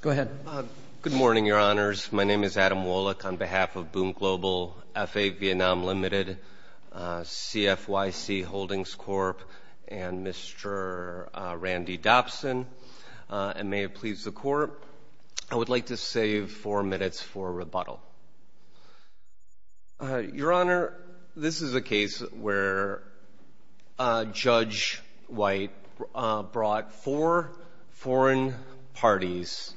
Good morning, Your Honors. My name is Adam Wolek on behalf of Boon Global, F.A. Vietnam Limited, CFYC Holdings Corp., and Mr. Randy Dobson, and may it please the Court, I would like to save four minutes for rebuttal. Your Honor, this is a case where Judge White brought four foreign parties,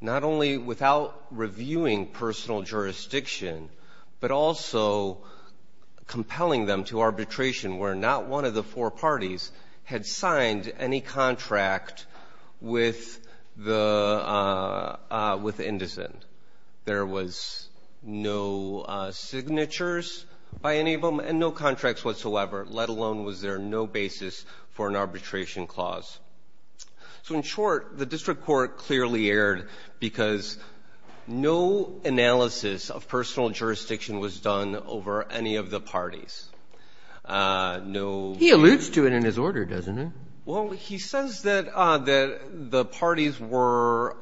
not only without reviewing personal jurisdiction, but also compelling them to arbitration where not one of the four parties had signed any contract with Indocent. There was no signatures by any of them and no contracts whatsoever, let alone was there no basis for an arbitration clause. So, in short, the district court clearly erred because no analysis of personal jurisdiction was done over any of the parties. No ---- He alludes to it in his order, doesn't he? Well, he says that the parties were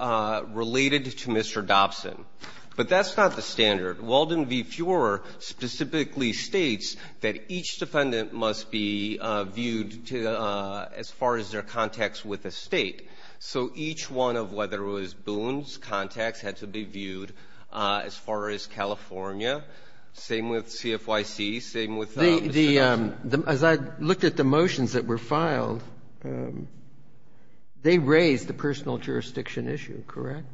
related to Mr. Dobson, but that's not the standard. Walden v. Fuhrer specifically states that each defendant must be viewed as far as their contacts with the State. So each one of whether it was Boone's contacts had to be viewed as far as California, same with CFYC, same with Mr. Dobson. The ---- As I looked at the motions that were filed, they raised the personal jurisdiction issue, correct?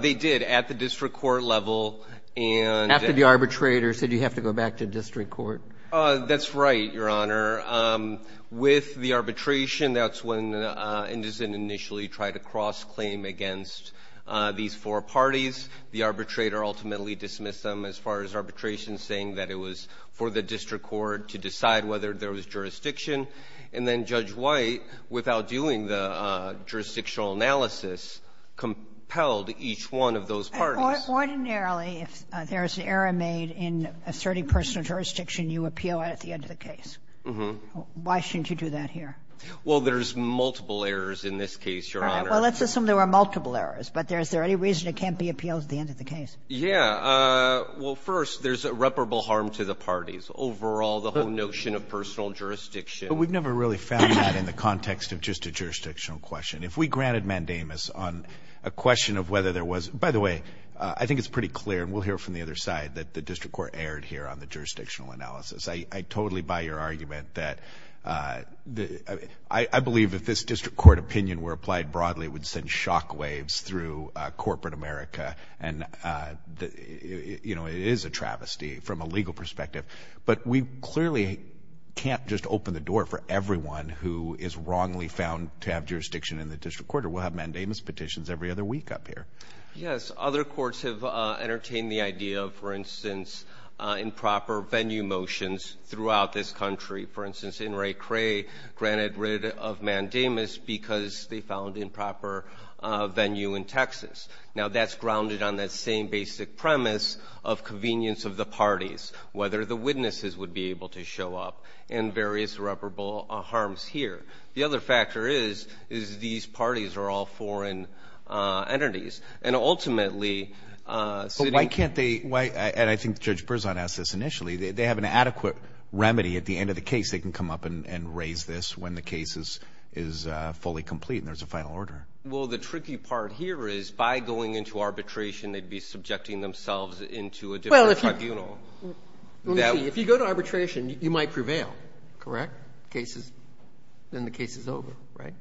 They did at the district court level and ---- After the arbitrator said you have to go back to district court? That's right, Your Honor. With the arbitration, that's when Indocent initially tried to cross-claim against these four parties. The arbitrator ultimately dismissed them as far as arbitration saying that it was for the district court to decide whether there was jurisdiction, and then Judge White, without doing the jurisdictional analysis, compelled each one of those parties. Ordinarily, if there is an error made in asserting personal jurisdiction, you appeal it at the end of the case. Mm-hmm. Why shouldn't you do that here? Well, there's multiple errors in this case, Your Honor. All right. Well, let's assume there were multiple errors. But is there any reason it can't be appealed at the end of the case? Yeah. Well, first, there's irreparable harm to the parties. Overall, the whole notion of personal jurisdiction ---- But we've never really found that in the context of just a jurisdictional question. If we granted mandamus on a question of whether there was ---- By the way, I think it's pretty clear, and we'll hear it from the other side, that the district court erred here on the jurisdictional analysis. I totally buy your argument that the ---- I believe if this district court opinion were applied broadly, it would send shockwaves through corporate America. And, you know, it is a travesty from a legal perspective. But we clearly can't just open the door for everyone who is wrongly found to have jurisdiction in the district court, or we'll have mandamus petitions every other week up here. Yes. Other courts have entertained the idea of, for instance, improper venue motions throughout this country. For instance, In re Cray granted rid of mandamus because they found improper venue in Texas. Now, that's grounded on that same basic premise of convenience of the parties, whether the witnesses would be able to show up in various irreparable harms here. The other factor is, is these parties are all foreign entities. And ultimately ---- So why can't they ---- And I think Judge Berzon asked this initially. They have an adequate remedy at the end of the case. They can come up and raise this when the case is fully complete and there's a final order. Well, the tricky part here is by going into arbitration, they'd be subjecting themselves into a different tribunal. If you go to arbitration, you might prevail, correct? Then the case is over, right?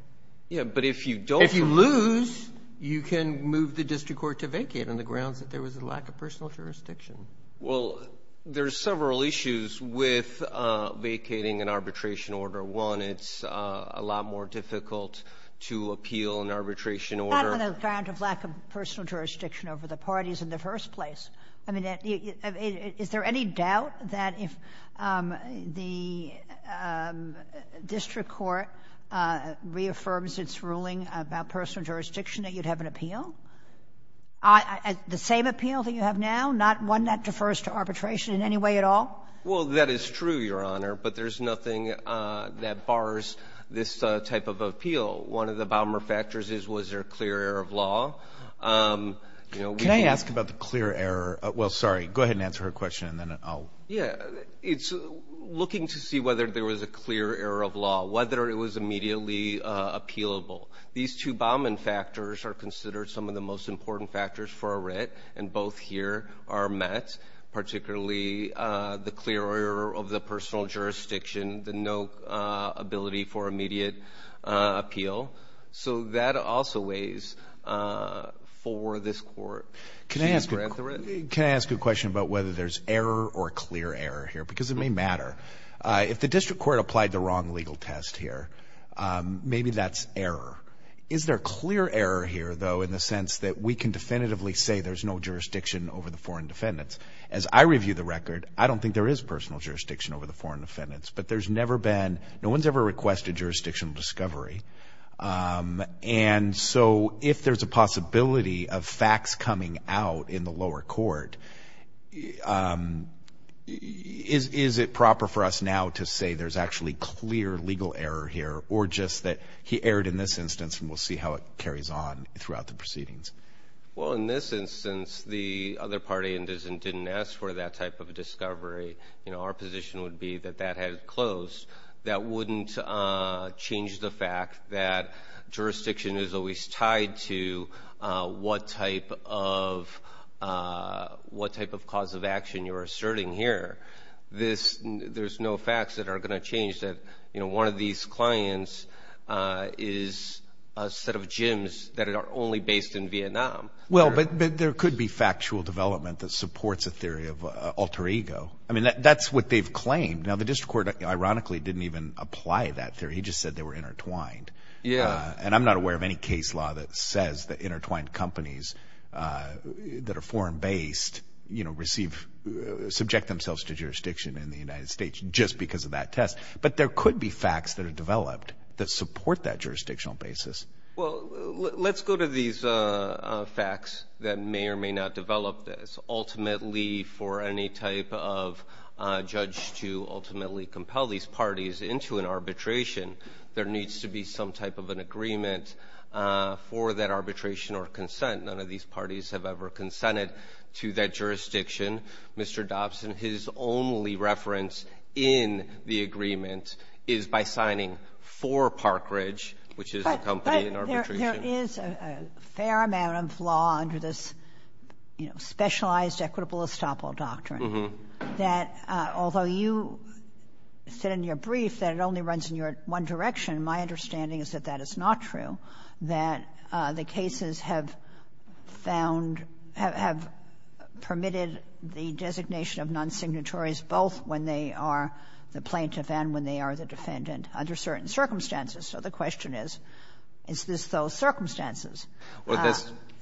Yeah. But if you don't ---- If you lose, you can move the district court to vacate on the grounds that there was a lack of personal jurisdiction. Well, there's several issues with vacating an arbitration order. One, it's a lot more difficult to appeal an arbitration order. Not on the ground of lack of personal jurisdiction over the parties in the first place. I mean, is there any doubt that if the district court reaffirms its ruling about personal jurisdiction that you'd have an appeal? The same appeal that you have now? Not one that defers to arbitration in any way at all? Well, that is true, Your Honor, but there's nothing that bars this type of appeal. One of the bomber factors is, was there a clear error of law? Can I ask about the clear error? Well, sorry. Go ahead and answer her question and then I'll ---- Yeah. It's looking to see whether there was a clear error of law, whether it was immediately appealable. These two bombing factors are considered some of the most important factors for a writ and both here are met, particularly the clear error of the personal jurisdiction, the no ability for immediate appeal. So that also weighs for this court. Can I ask a question about whether there's error or clear error here? Because it may matter. If the district court applied the wrong legal test here, maybe that's error. Is there clear error here, though, in the sense that we can definitively say there's no jurisdiction over the foreign defendants? As I review the record, I don't think there is personal jurisdiction over the foreign defendants, but there's never been, no one's ever requested jurisdictional discovery. And so if there's a possibility of facts coming out in the lower court, is it proper for us now to say there's actually clear legal error here or just that he erred in this instance and we'll see how it carries on throughout the proceedings? Well, in this instance, the other party didn't ask for that type of discovery. You know, our position would be that that had closed. That wouldn't change the fact that jurisdiction is always tied to what type of cause of action you're asserting here. There's no facts that are going to change that, you know, one of these clients is a set of gyms that are only based in Vietnam. Well, but there could be factual development that supports a theory of alter ego. I mean, that's what they've claimed. Now, the district court, ironically, didn't even apply that theory. He just said they were intertwined. Yeah. And I'm not aware of any case law that says that intertwined companies that are foreign based, you know, receive, subject themselves to jurisdiction in the United States just because of that test. But there could be facts that are developed that support that jurisdictional basis. Well, let's go to these facts that may or may not develop this. Ultimately, for any type of judge to ultimately compel these parties into an arbitration, there needs to be some type of an agreement for that arbitration or consent. None of these parties have ever consented to that jurisdiction. Mr. Dobson, his only reference in the agreement is by signing for Parkridge, which is a company in arbitration. There is a fair amount of law under this, you know, specialized equitable estoppel doctrine that although you said in your brief that it only runs in your one direction, my understanding is that that is not true, that the cases have found, have permitted the designation of non-signatories both when they are the plaintiff and when they are the defendant under certain circumstances. So the question is, is this those circumstances?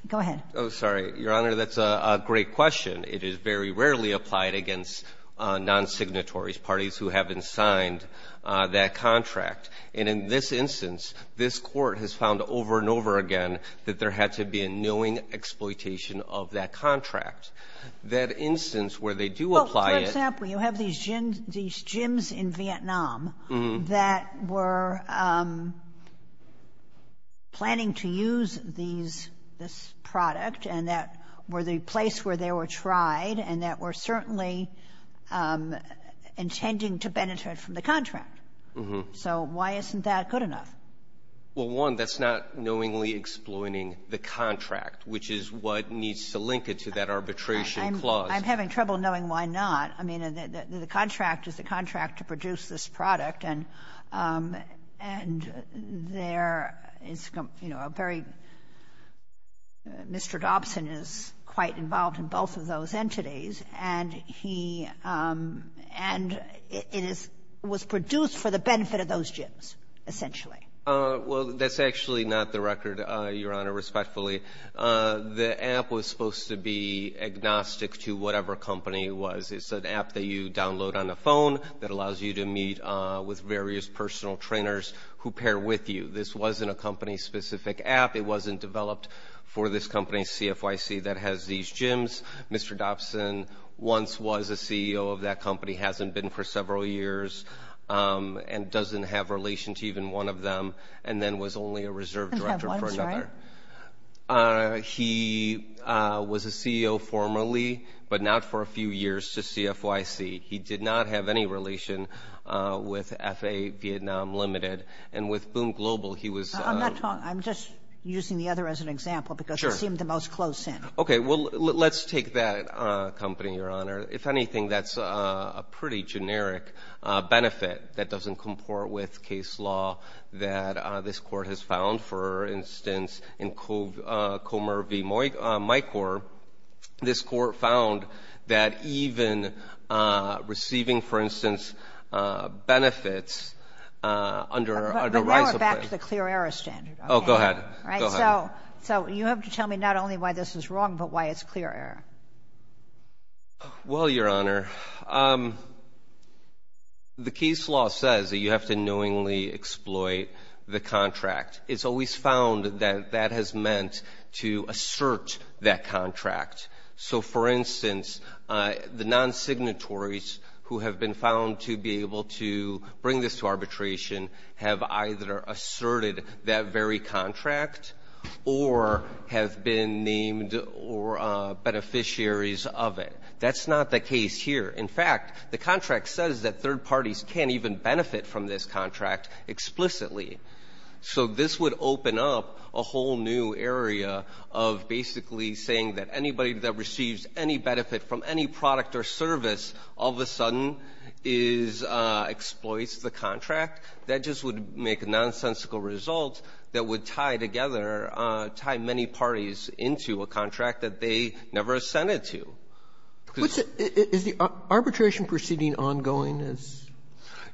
Go ahead. Oh, sorry. Your Honor, that's a great question. It is very rarely applied against non-signatories, parties who haven't signed that contract. And in this instance, this Court has found over and over again that there had to be a knowing exploitation of that contract. That instance where they do apply it. For example, you have these gyms in Vietnam that were planning to use this product and that were the place where they were tried and that were certainly intending to benefit from the contract. So why isn't that good enough? Well, one, that's not knowingly exploiting the contract, which is what needs to link it to that arbitration clause. I'm having trouble knowing why not. I mean, the contract is the contract to produce this product, and there is, you know, a very Mr. Dobson is quite involved in both of those entities, and he and it is was Well, that's actually not the record, Your Honor, respectfully. The app was supposed to be agnostic to whatever company it was. It's an app that you download on the phone that allows you to meet with various personal trainers who pair with you. This wasn't a company-specific app. It wasn't developed for this company, CFYC, that has these gyms. Mr. Dobson once was a CEO of that company, hasn't been for several years, and doesn't have relation to even one of them, and then was only a reserve director for another. He was a CEO formerly, but not for a few years to CFYC. He did not have any relation with FAA Vietnam Limited, and with Boom Global, he was I'm just using the other as an example because I see him the most close in. Okay, well, let's take that company, Your Honor. If anything, that's a pretty generic benefit that doesn't comport with case law that this court has found. For instance, in Comer v. Micor, this court found that even receiving, for instance, benefits under the rights of But now we're back to the clear error standard. Oh, go ahead. All right, so you have to tell me not only why this is wrong, but why it's clear error. Well, Your Honor, the case law says that you have to knowingly exploit the contract. It's always found that that has meant to assert that contract. So for instance, the non-signatories who have been found to be able to bring this to arbitration have either asserted that very contract or have been named beneficiaries of it. That's not the case here. In fact, the contract says that third parties can't even benefit from this contract explicitly. So this would open up a whole new area of basically saying that anybody that receives any benefit from any product or service all of a sudden exploits the contract. That just would make a nonsensical result that would tie together, tie many parties into a contract that they never assented to. Is the arbitration proceeding ongoing?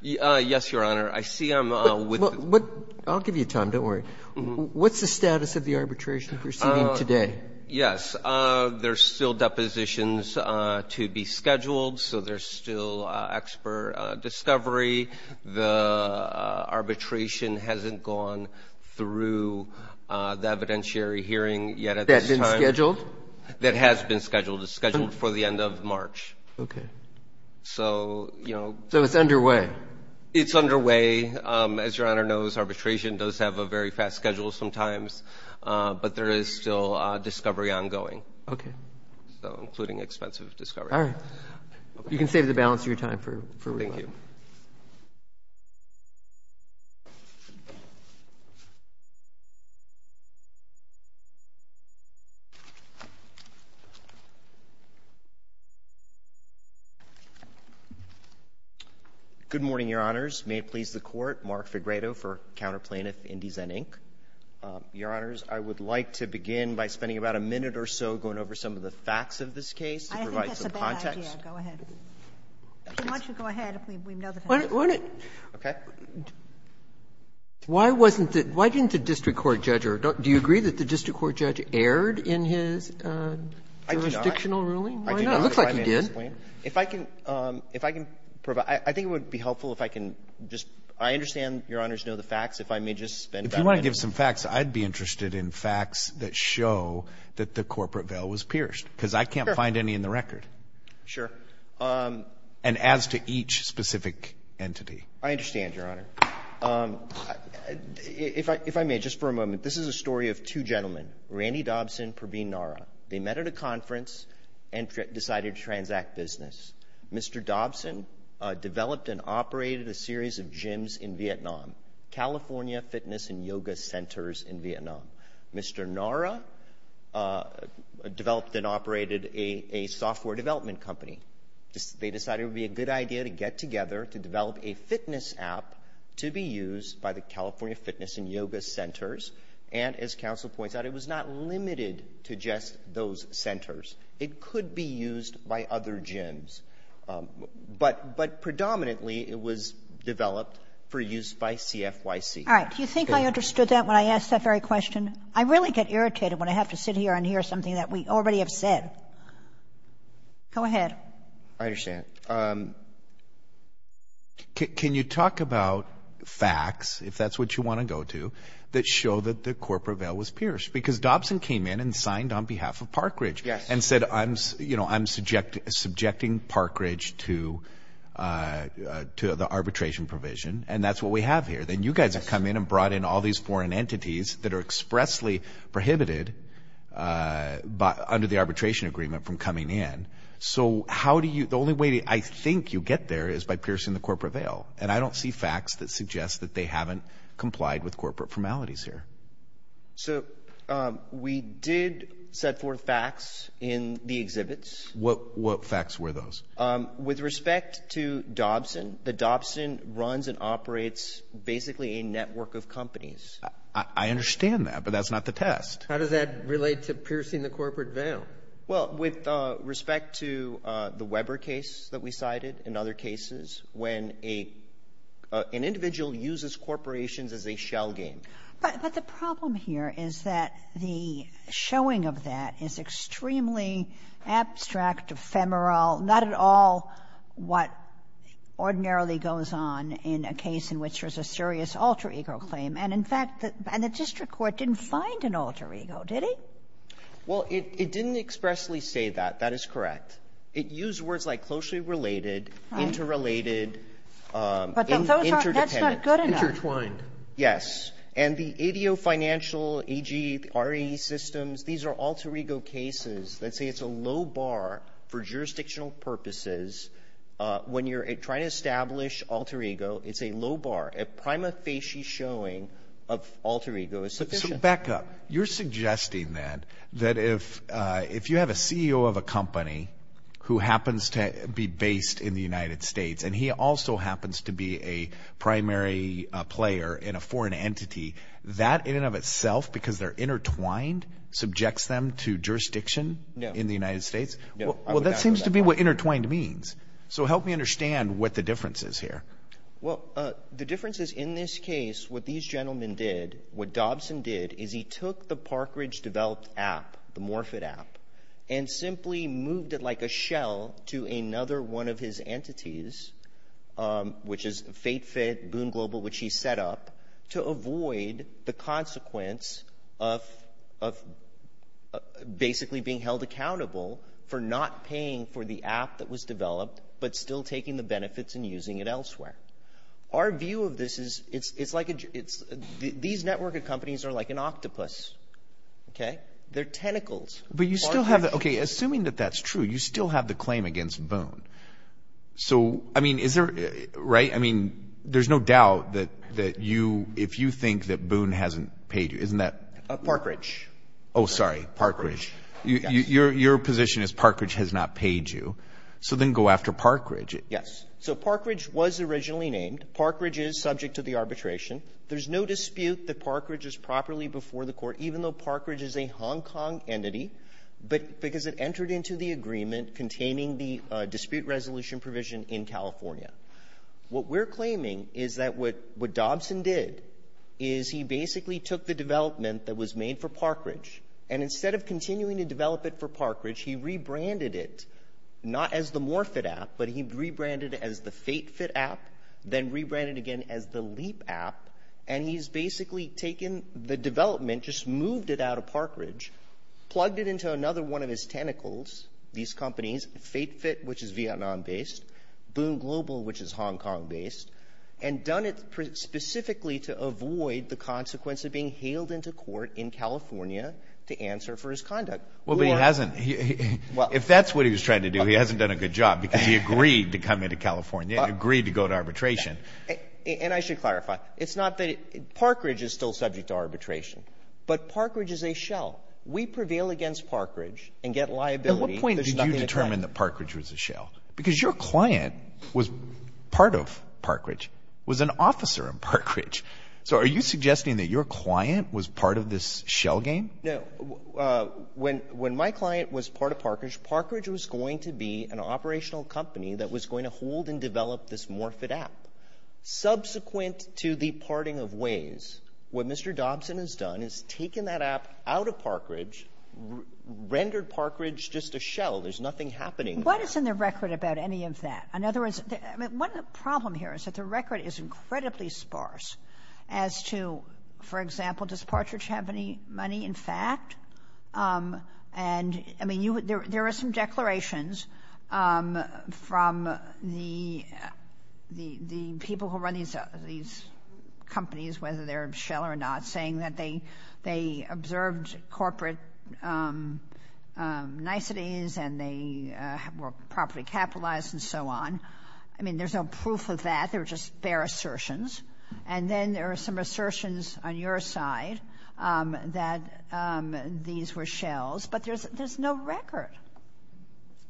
Yes, Your Honor. I see I'm with you. I'll give you time. Don't worry. What's the status of the arbitration proceeding today? Yes, there's still depositions to be scheduled. So there's still expert discovery. The arbitration hasn't gone through the evidentiary hearing yet at this time. That's been scheduled? That has been scheduled. It's scheduled for the end of March. Okay. So, you know. So it's underway? It's underway. As Your Honor knows, arbitration does have a very fast schedule sometimes. But there is still discovery ongoing. Okay. So including expensive discovery. All right. You can save the balance of your time for rebuttal. Thank you. Good morning, Your Honors. May it please the Court. Mark Figredo for Counter Plaintiff Indies and Inc. Your Honors, I would like to begin by spending about a minute or so going over some of the facts of this case to provide some context. I don't think that's a bad idea. Go ahead. Why don't you go ahead if we know the facts? Okay. Why didn't the district court judge? Do you agree that the district court judge erred in his jurisdictional ruling? I do not. Why not? It looks like he did. If I can provide – I think it would be helpful if I can just – I understand Your Honors know the facts. If you want to give some facts, I'd be interested in facts that show that the corporate veil was pierced because I can't find any in the record. Sure. And as to each specific entity. I understand, Your Honor. If I may, just for a moment. This is a story of two gentlemen, Randy Dobson and Pravin Nara. They met at a conference and decided to transact business. Mr. Dobson developed and operated a series of gyms in Vietnam. California Fitness and Yoga Centers in Vietnam. Mr. Nara developed and operated a software development company. They decided it would be a good idea to get together to develop a fitness app to be used by the California Fitness and Yoga Centers. And as counsel points out, it was not limited to just those centers. It could be used by other gyms. But predominantly, it was developed for use by CFYC. All right. Do you think I understood that when I asked that very question? I really get irritated when I have to sit here and hear something that we already have said. Go ahead. I understand. Can you talk about facts, if that's what you want to go to, that show that the corporate veil was pierced? Because Dobson came in and signed on behalf of Park Ridge. Yes. And said, I'm subjecting Park Ridge to the arbitration provision. And that's what we have here. Then you guys have come in and brought in all these foreign entities that are expressly prohibited under the arbitration agreement from coming in. So the only way I think you get there is by piercing the corporate veil. And I don't see facts that suggest that they haven't complied with corporate formalities here. So we did set forth facts in the exhibits. What facts were those? With respect to Dobson, the Dobson runs and operates basically a network of companies. I understand that. But that's not the test. How does that relate to piercing the corporate veil? Well, with respect to the Weber case that we cited and other cases, when an individual uses corporations as a shell game. But the problem here is that the showing of that is extremely abstract, ephemeral. Not at all what ordinarily goes on in a case in which there's a serious alter ego claim. And, in fact, the district court didn't find an alter ego, did he? Well, it didn't expressly say that. That is correct. It used words like closely related, interrelated, interdependent. That's not good enough. Intertwined. Yes. And the ADO financial AGRE systems, these are alter ego cases. Let's say it's a low bar for jurisdictional purposes. When you're trying to establish alter ego, it's a low bar. A prima facie showing of alter ego is sufficient. Back up. You're suggesting that if you have a CEO of a company who happens to be based in the United States, that in and of itself, because they're intertwined, subjects them to jurisdiction in the United States? No. Well, that seems to be what intertwined means. So help me understand what the difference is here. Well, the difference is in this case, what these gentlemen did, what Dobson did is he took the Parkridge developed app, the Morphit app, and simply moved it like a shell to another one of his entities, which is FateFit, Boone Global, which he set up to avoid the consequence of basically being held accountable for not paying for the app that was developed, but still taking the benefits and using it elsewhere. Our view of this is it's like these network of companies are like an octopus. Okay. They're tentacles. But you still have it. Okay. Assuming that that's true, you still have the claim against Boone. So, I mean, is there, right? I mean, there's no doubt that you, if you think that Boone hasn't paid you, isn't that? Parkridge. Oh, sorry. Parkridge. Your position is Parkridge has not paid you. So then go after Parkridge. Yes. So Parkridge was originally named. Parkridge is subject to the arbitration. There's no dispute that Parkridge is properly before the court, even though Parkridge is a in California. What we're claiming is that what Dobson did is he basically took the development that was made for Parkridge, and instead of continuing to develop it for Parkridge, he rebranded it, not as the Morphit app, but he rebranded it as the FateFit app, then rebranded again as the Leap app. And he's basically taken the development, just moved it out of Parkridge, plugged it into another one of his tentacles, these companies, FateFit, which is Vietnam-based, Boone Global, which is Hong Kong-based, and done it specifically to avoid the consequence of being hailed into court in California to answer for his conduct. Well, but he hasn't. If that's what he was trying to do, he hasn't done a good job, because he agreed to come into California, agreed to go to arbitration. And I should clarify, it's not that Parkridge is still subject to arbitration, but Parkridge is a shell. We prevail against Parkridge and get liability. At what point did you determine that Parkridge was a shell? Because your client was part of Parkridge, was an officer in Parkridge. So are you suggesting that your client was part of this shell game? No. When my client was part of Parkridge, Parkridge was going to be an operational company that was going to hold and develop this Morphit app. Subsequent to the parting of ways, what Mr. Dobson has done is taken that app out of Parkridge, rendered Parkridge just a shell. There's nothing happening there. What is in the record about any of that? In other words, one problem here is that the record is incredibly sparse as to, for example, does Parkridge have any money, in fact? And, I mean, there are some declarations from the people who run these companies, whether they're a shell or not, saying that they observed corporate niceties and they were property capitalized and so on. I mean, there's no proof of that. They're just bare assertions. And then there are some assertions on your side that these were shells. But there's no record.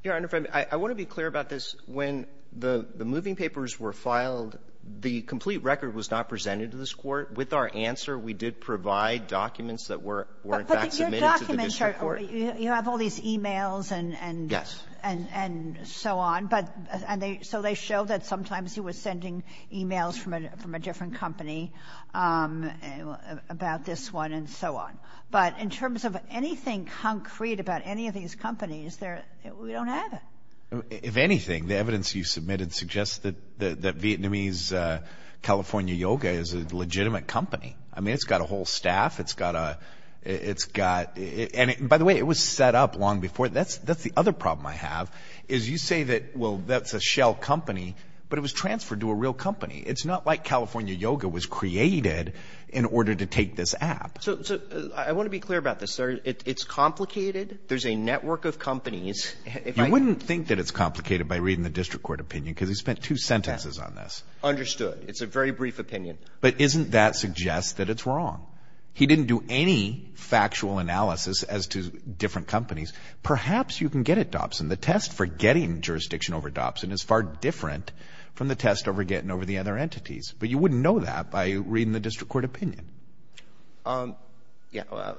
Your Honor, if I may, I want to be clear about this. When the moving papers were filed, the complete record was not presented to this court. With our answer, we did provide documents that were in fact submitted to the district court. But your documents are, you have all these e-mails and so on. But, and so they show that sometimes he was sending e-mails from a different company about this one and so on. But in terms of anything concrete about any of these companies, we don't have it. If anything, the evidence you submitted suggests that Vietnamese California Yoga is a legitimate company. I mean, it's got a whole staff. It's got a, it's got, and by the way, it was set up long before. That's, that's the other problem I have is you say that, well, that's a shell company, but it was transferred to a real company. It's not like California Yoga was created in order to take this app. So I want to be clear about this. It's complicated. There's a network of companies. You wouldn't think that it's complicated by reading the district court opinion, because he spent two sentences on this. Understood. It's a very brief opinion. But isn't that suggests that it's wrong. He didn't do any factual analysis as to different companies. Perhaps you can get it, Dobson. The test for getting jurisdiction over Dobson is far different from the test over getting over the other entities. But you wouldn't know that by reading the district court opinion. Yeah. Well,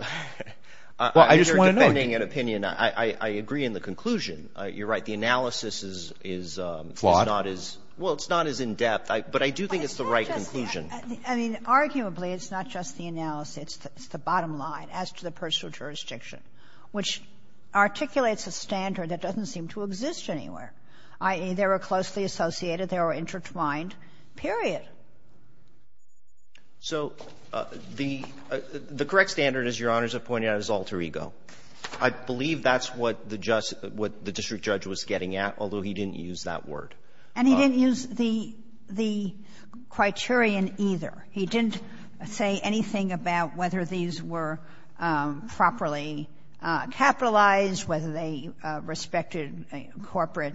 I just want to know. I agree in the conclusion. You're right. The analysis is, is not as well. It's not as in-depth. But I do think it's the right conclusion. I mean, arguably, it's not just the analysis. It's the bottom line as to the personal jurisdiction, which articulates a standard that doesn't seem to exist anywhere. I mean, they were closely associated. They were intertwined, period. So the the correct standard, as Your Honors have pointed out, is alter ego. I believe that's what the just what the district judge was getting at, although he didn't use that word. And he didn't use the the criterion either. He didn't say anything about whether these were properly capitalized, whether they respected corporate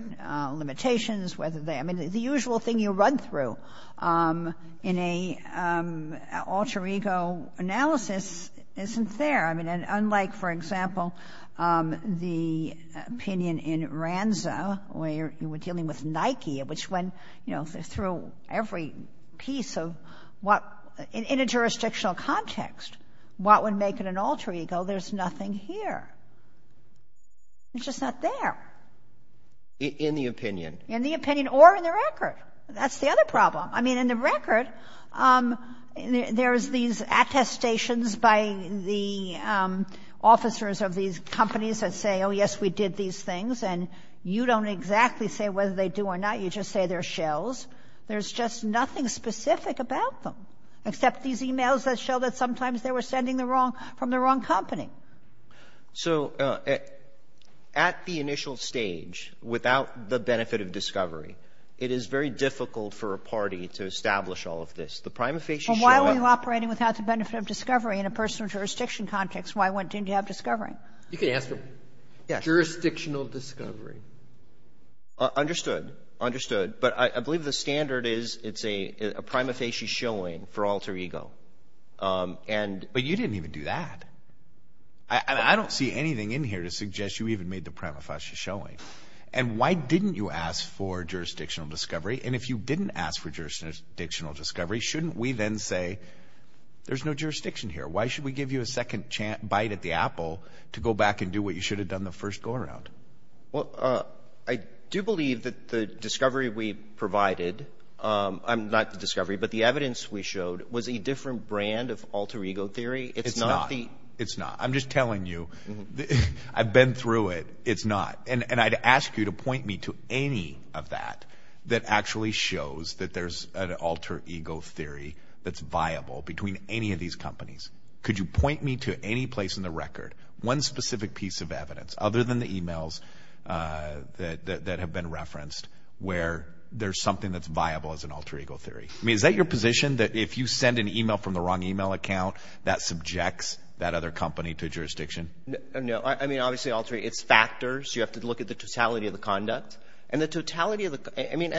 limitations, whether they I mean, the usual thing you run through in a alter ego analysis isn't there. And unlike, for example, the opinion in RANSA, where you were dealing with Nike, which went through every piece of what in a jurisdictional context, what would make it an alter ego? There's nothing here. It's just not there. In the opinion. In the opinion or in the record. That's the other problem. I mean, in the record, there's these attestations by the officers of these companies that say, oh, yes, we did these things. And you don't exactly say whether they do or not. You just say they're shells. There's just nothing specific about them, except these emails that show that sometimes they were sending the wrong from the wrong company. So at the initial stage, without the benefit of discovery, it is very difficult for a party to establish all of this. The prima facie. Why are you operating without the benefit of discovery in a personal jurisdiction context? Why wouldn't you have discovery? You can ask him jurisdictional discovery. Understood. Understood. But I believe the standard is it's a prima facie showing for alter ego. But you didn't even do that. And I don't see anything in here to suggest you even made the prima facie showing. And why didn't you ask for jurisdictional discovery? And if you didn't ask for jurisdictional discovery, shouldn't we then say there's no jurisdiction here? Why should we give you a second bite at the apple to go back and do what you should have done the first go around? Well, I do believe that the discovery we provided. I'm not the discovery, but the evidence we showed was a different brand of alter ego theory. It's not the. It's not. I'm just telling you I've been through it. It's not. And I'd ask you to point me to any of that that actually shows that there's an alter ego theory that's viable between any of these companies. Could you point me to any place in the record one specific piece of evidence other than the emails that have been referenced where there's something that's viable as an alter ego theory? I mean, is that your position that if you send an email from the wrong email account that subjects that other company to jurisdiction? No. I mean, obviously, alter ego theory, it's factors. You have to look at the totality of the conduct. And the totality of the conduct, I mean,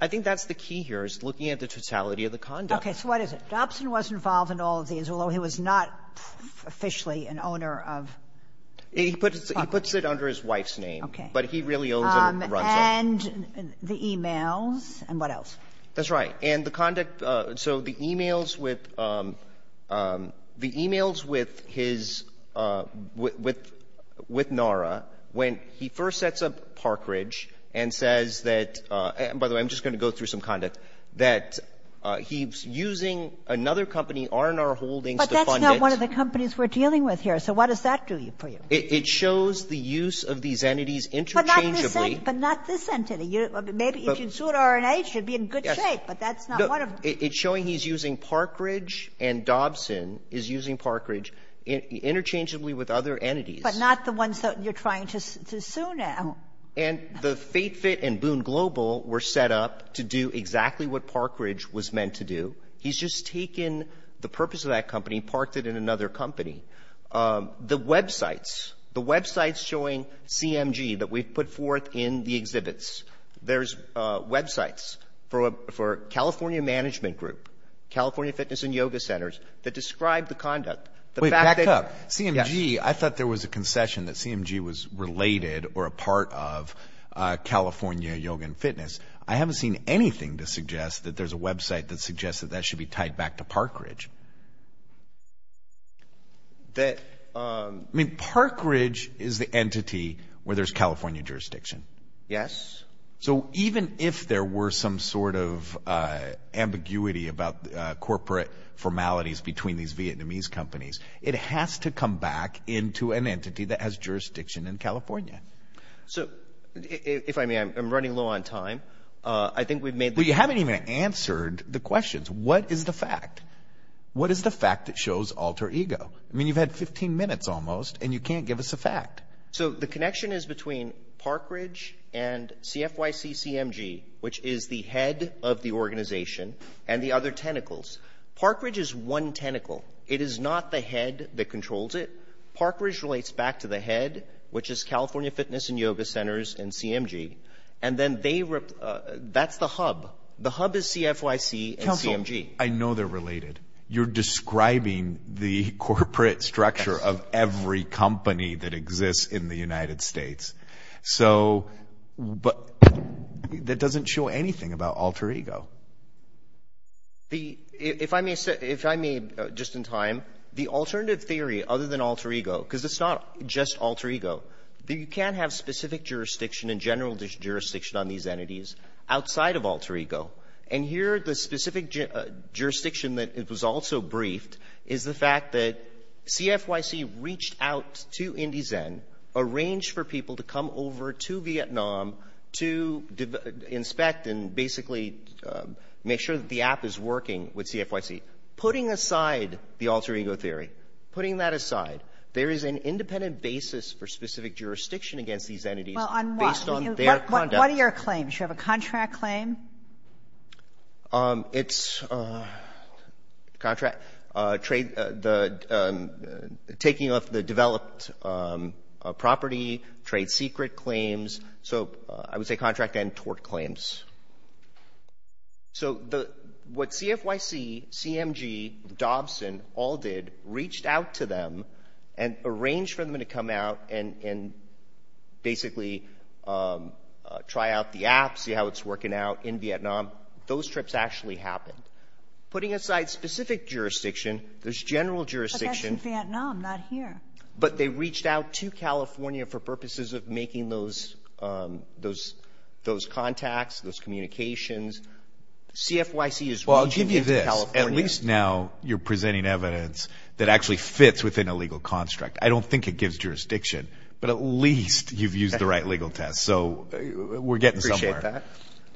I think that's the key here is looking at the totality of the conduct. Okay. So what is it? Dobson was involved in all of these, although he was not officially an owner of. He puts it under his wife's name. Okay. But he really owns it and runs it. And the emails. And what else? That's right. And the conduct. So the emails with NARA, when he first sets up Parkridge and says that, and by the way, I'm just going to go through some conduct, that he's using another company, R&R Holdings. But that's not one of the companies we're dealing with here. So what does that do for you? It shows the use of these entities interchangeably. But not this entity. Maybe if you sued R&H, you'd be in good shape. It's showing he's using Parkridge and Dobson is using Parkridge interchangeably with other entities. But not the ones that you're trying to sue now. And the FateFit and Boone Global were set up to do exactly what Parkridge was meant to do. He's just taken the purpose of that company, parked it in another company. The websites. There's websites for California Management Group, California Fitness and Yoga Centers, that describe the conduct. Wait, back up. CMG. I thought there was a concession that CMG was related or a part of California Yoga and Fitness. I haven't seen anything to suggest that there's a website that suggests that that should be tied back to Parkridge. I mean, Parkridge is the entity where there's California jurisdiction. Yes. So even if there were some sort of ambiguity about corporate formalities between these Vietnamese companies, it has to come back into an entity that has jurisdiction in California. So if I may, I'm running low on time. I think we've made... You haven't even answered the questions. What is the fact? What is the fact that shows alter ego? I mean, you've had 15 minutes almost and you can't give us a fact. So the connection is between Parkridge and CFYC-CMG, which is the head of the organization and the other tentacles. Parkridge is one tentacle. It is not the head that controls it. Parkridge relates back to the head, which is California Fitness and Yoga Centers and CMG. And then that's the hub. The hub is CFYC and CMG. I know they're related. You're describing the corporate structure of every company that exists in the United States. But that doesn't show anything about alter ego. If I may, just in time, the alternative theory other than alter ego, because it's not just alter ego, that you can't have specific jurisdiction and general jurisdiction on these entities outside of alter ego. And here the specific jurisdiction that it was also briefed is the fact that CFYC reached out to Indyzen, arranged for people to come over to Vietnam to inspect and basically make sure that the app is working with CFYC. Putting aside the alter ego theory, putting that aside, there is an independent basis for specific jurisdiction against these entities. What are your claims? You have a contract claim? It's taking off the developed property, trade secret claims. So I would say contract and tort claims. So what CFYC, CMG, Dobson all did, reached out to them and arranged for them to come out and basically try out the app, see how it's working out in Vietnam. Those trips actually happened. Putting aside specific jurisdiction, there's general jurisdiction. But that's in Vietnam, not here. But they reached out to California for purposes of making those contacts, CFYC is reaching into California. Well, I'll give you this. At least now you're presenting evidence that actually fits within a legal construct. I don't think it gives jurisdiction, but at least you've used the right legal test. So we're getting somewhere.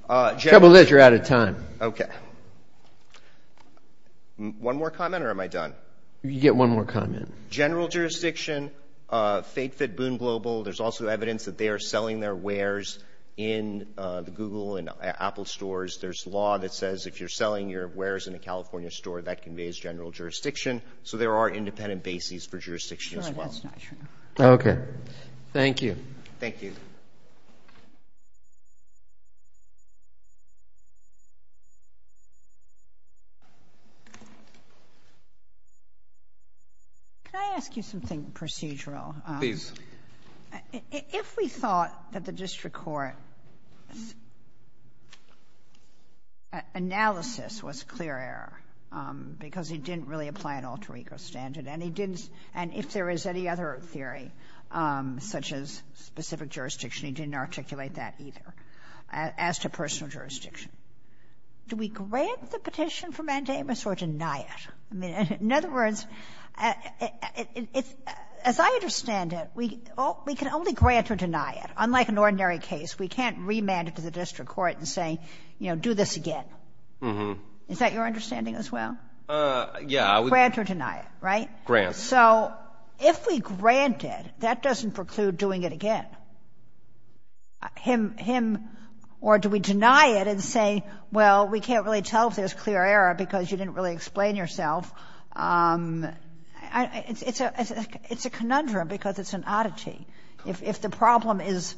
The trouble is you're out of time. Okay. One more comment or am I done? You get one more comment. General jurisdiction, FakeFit, Boone Global, there's also evidence that they are selling their wares in the Google and Apple stores. There's law that says if you're selling your wares in a California store, that conveys general jurisdiction. So there are independent bases for jurisdiction as well. No, that's not true. Okay. Thank you. Thank you. Thank you. Can I ask you something procedural? Please. If we thought that the district court's analysis was clear error because he didn't really apply an alter ego standard and he didn't, and if there is any other theory such as specific jurisdiction, he didn't articulate that either. As to personal jurisdiction, do we grant the petition for mandamus or deny it? I mean, in other words, as I understand it, we can only grant or deny it. Unlike an ordinary case, we can't remand it to the district court and say, you know, do this again. Is that your understanding as well? Yeah. Grant or deny it, right? Grant. So if we grant it, that doesn't preclude doing it again. Him or do we deny it and say, well, we can't really tell if there's clear error because you didn't really explain yourself. It's a conundrum because it's an oddity. If the problem is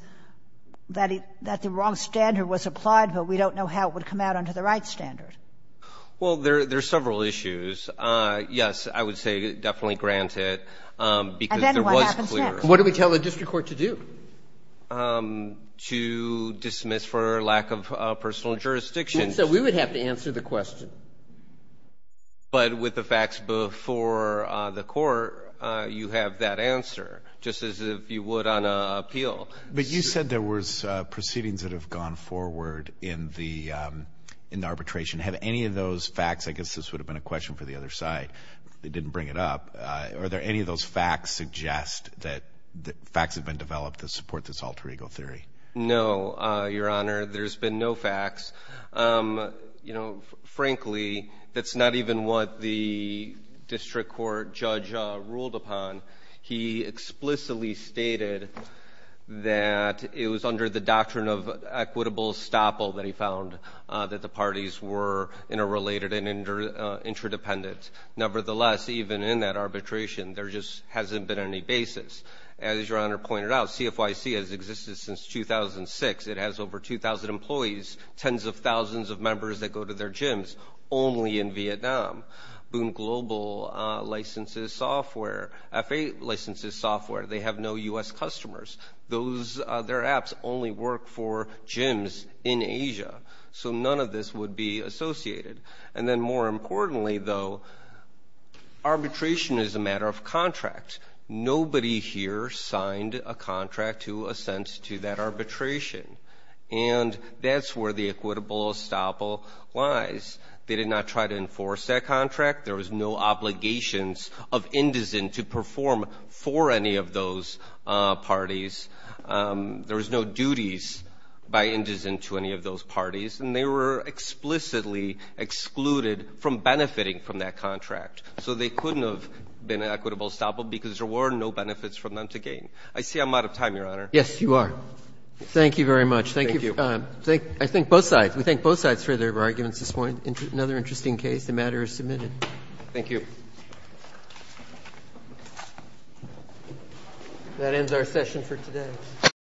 that the wrong standard was applied, but we don't know how it would come out under the right standard. Well, there are several issues. Yes, I would say definitely grant it because there was clear. What do we tell the district court to do? To dismiss for lack of personal jurisdiction. So we would have to answer the question. But with the facts before the court, you have that answer, just as if you would on appeal. But you said there was proceedings that have gone forward in the arbitration. Have any of those facts, I guess this would have been a question for the other side, they didn't bring it up. Are there any of those facts suggest that the facts have been developed to support this alter ego theory? No, Your Honor, there's been no facts. You know, frankly, that's not even what the district court judge ruled upon. He explicitly stated that it was under the doctrine of equitable estoppel that he found that the parties were interrelated and interdependent. Nevertheless, even in that arbitration, there just hasn't been any basis. As Your Honor pointed out, CFYC has existed since 2006. It has over 2,000 employees, tens of thousands of members that go to their gyms only in Vietnam. Boom Global licenses software, F8 licenses software. They have no U.S. customers. Those, their apps only work for gyms in Asia. So none of this would be associated. And then more importantly, though, arbitration is a matter of contract. Nobody here signed a contract to assent to that arbitration. And that's where the equitable estoppel lies. They did not try to enforce that contract. There was no obligations of indizen to perform for any of those parties. There was no duties by indizen to any of those parties. And they were explicitly excluded from benefiting from that contract. So they couldn't have been equitable estoppel because there were no benefits from them to gain. I see I'm out of time, Your Honor. Roberts. Yes, you are. Thank you very much. Thank you. Thank you. I thank both sides. We thank both sides for their arguments this morning. Another interesting case. The matter is submitted. Thank you. That ends our session for today.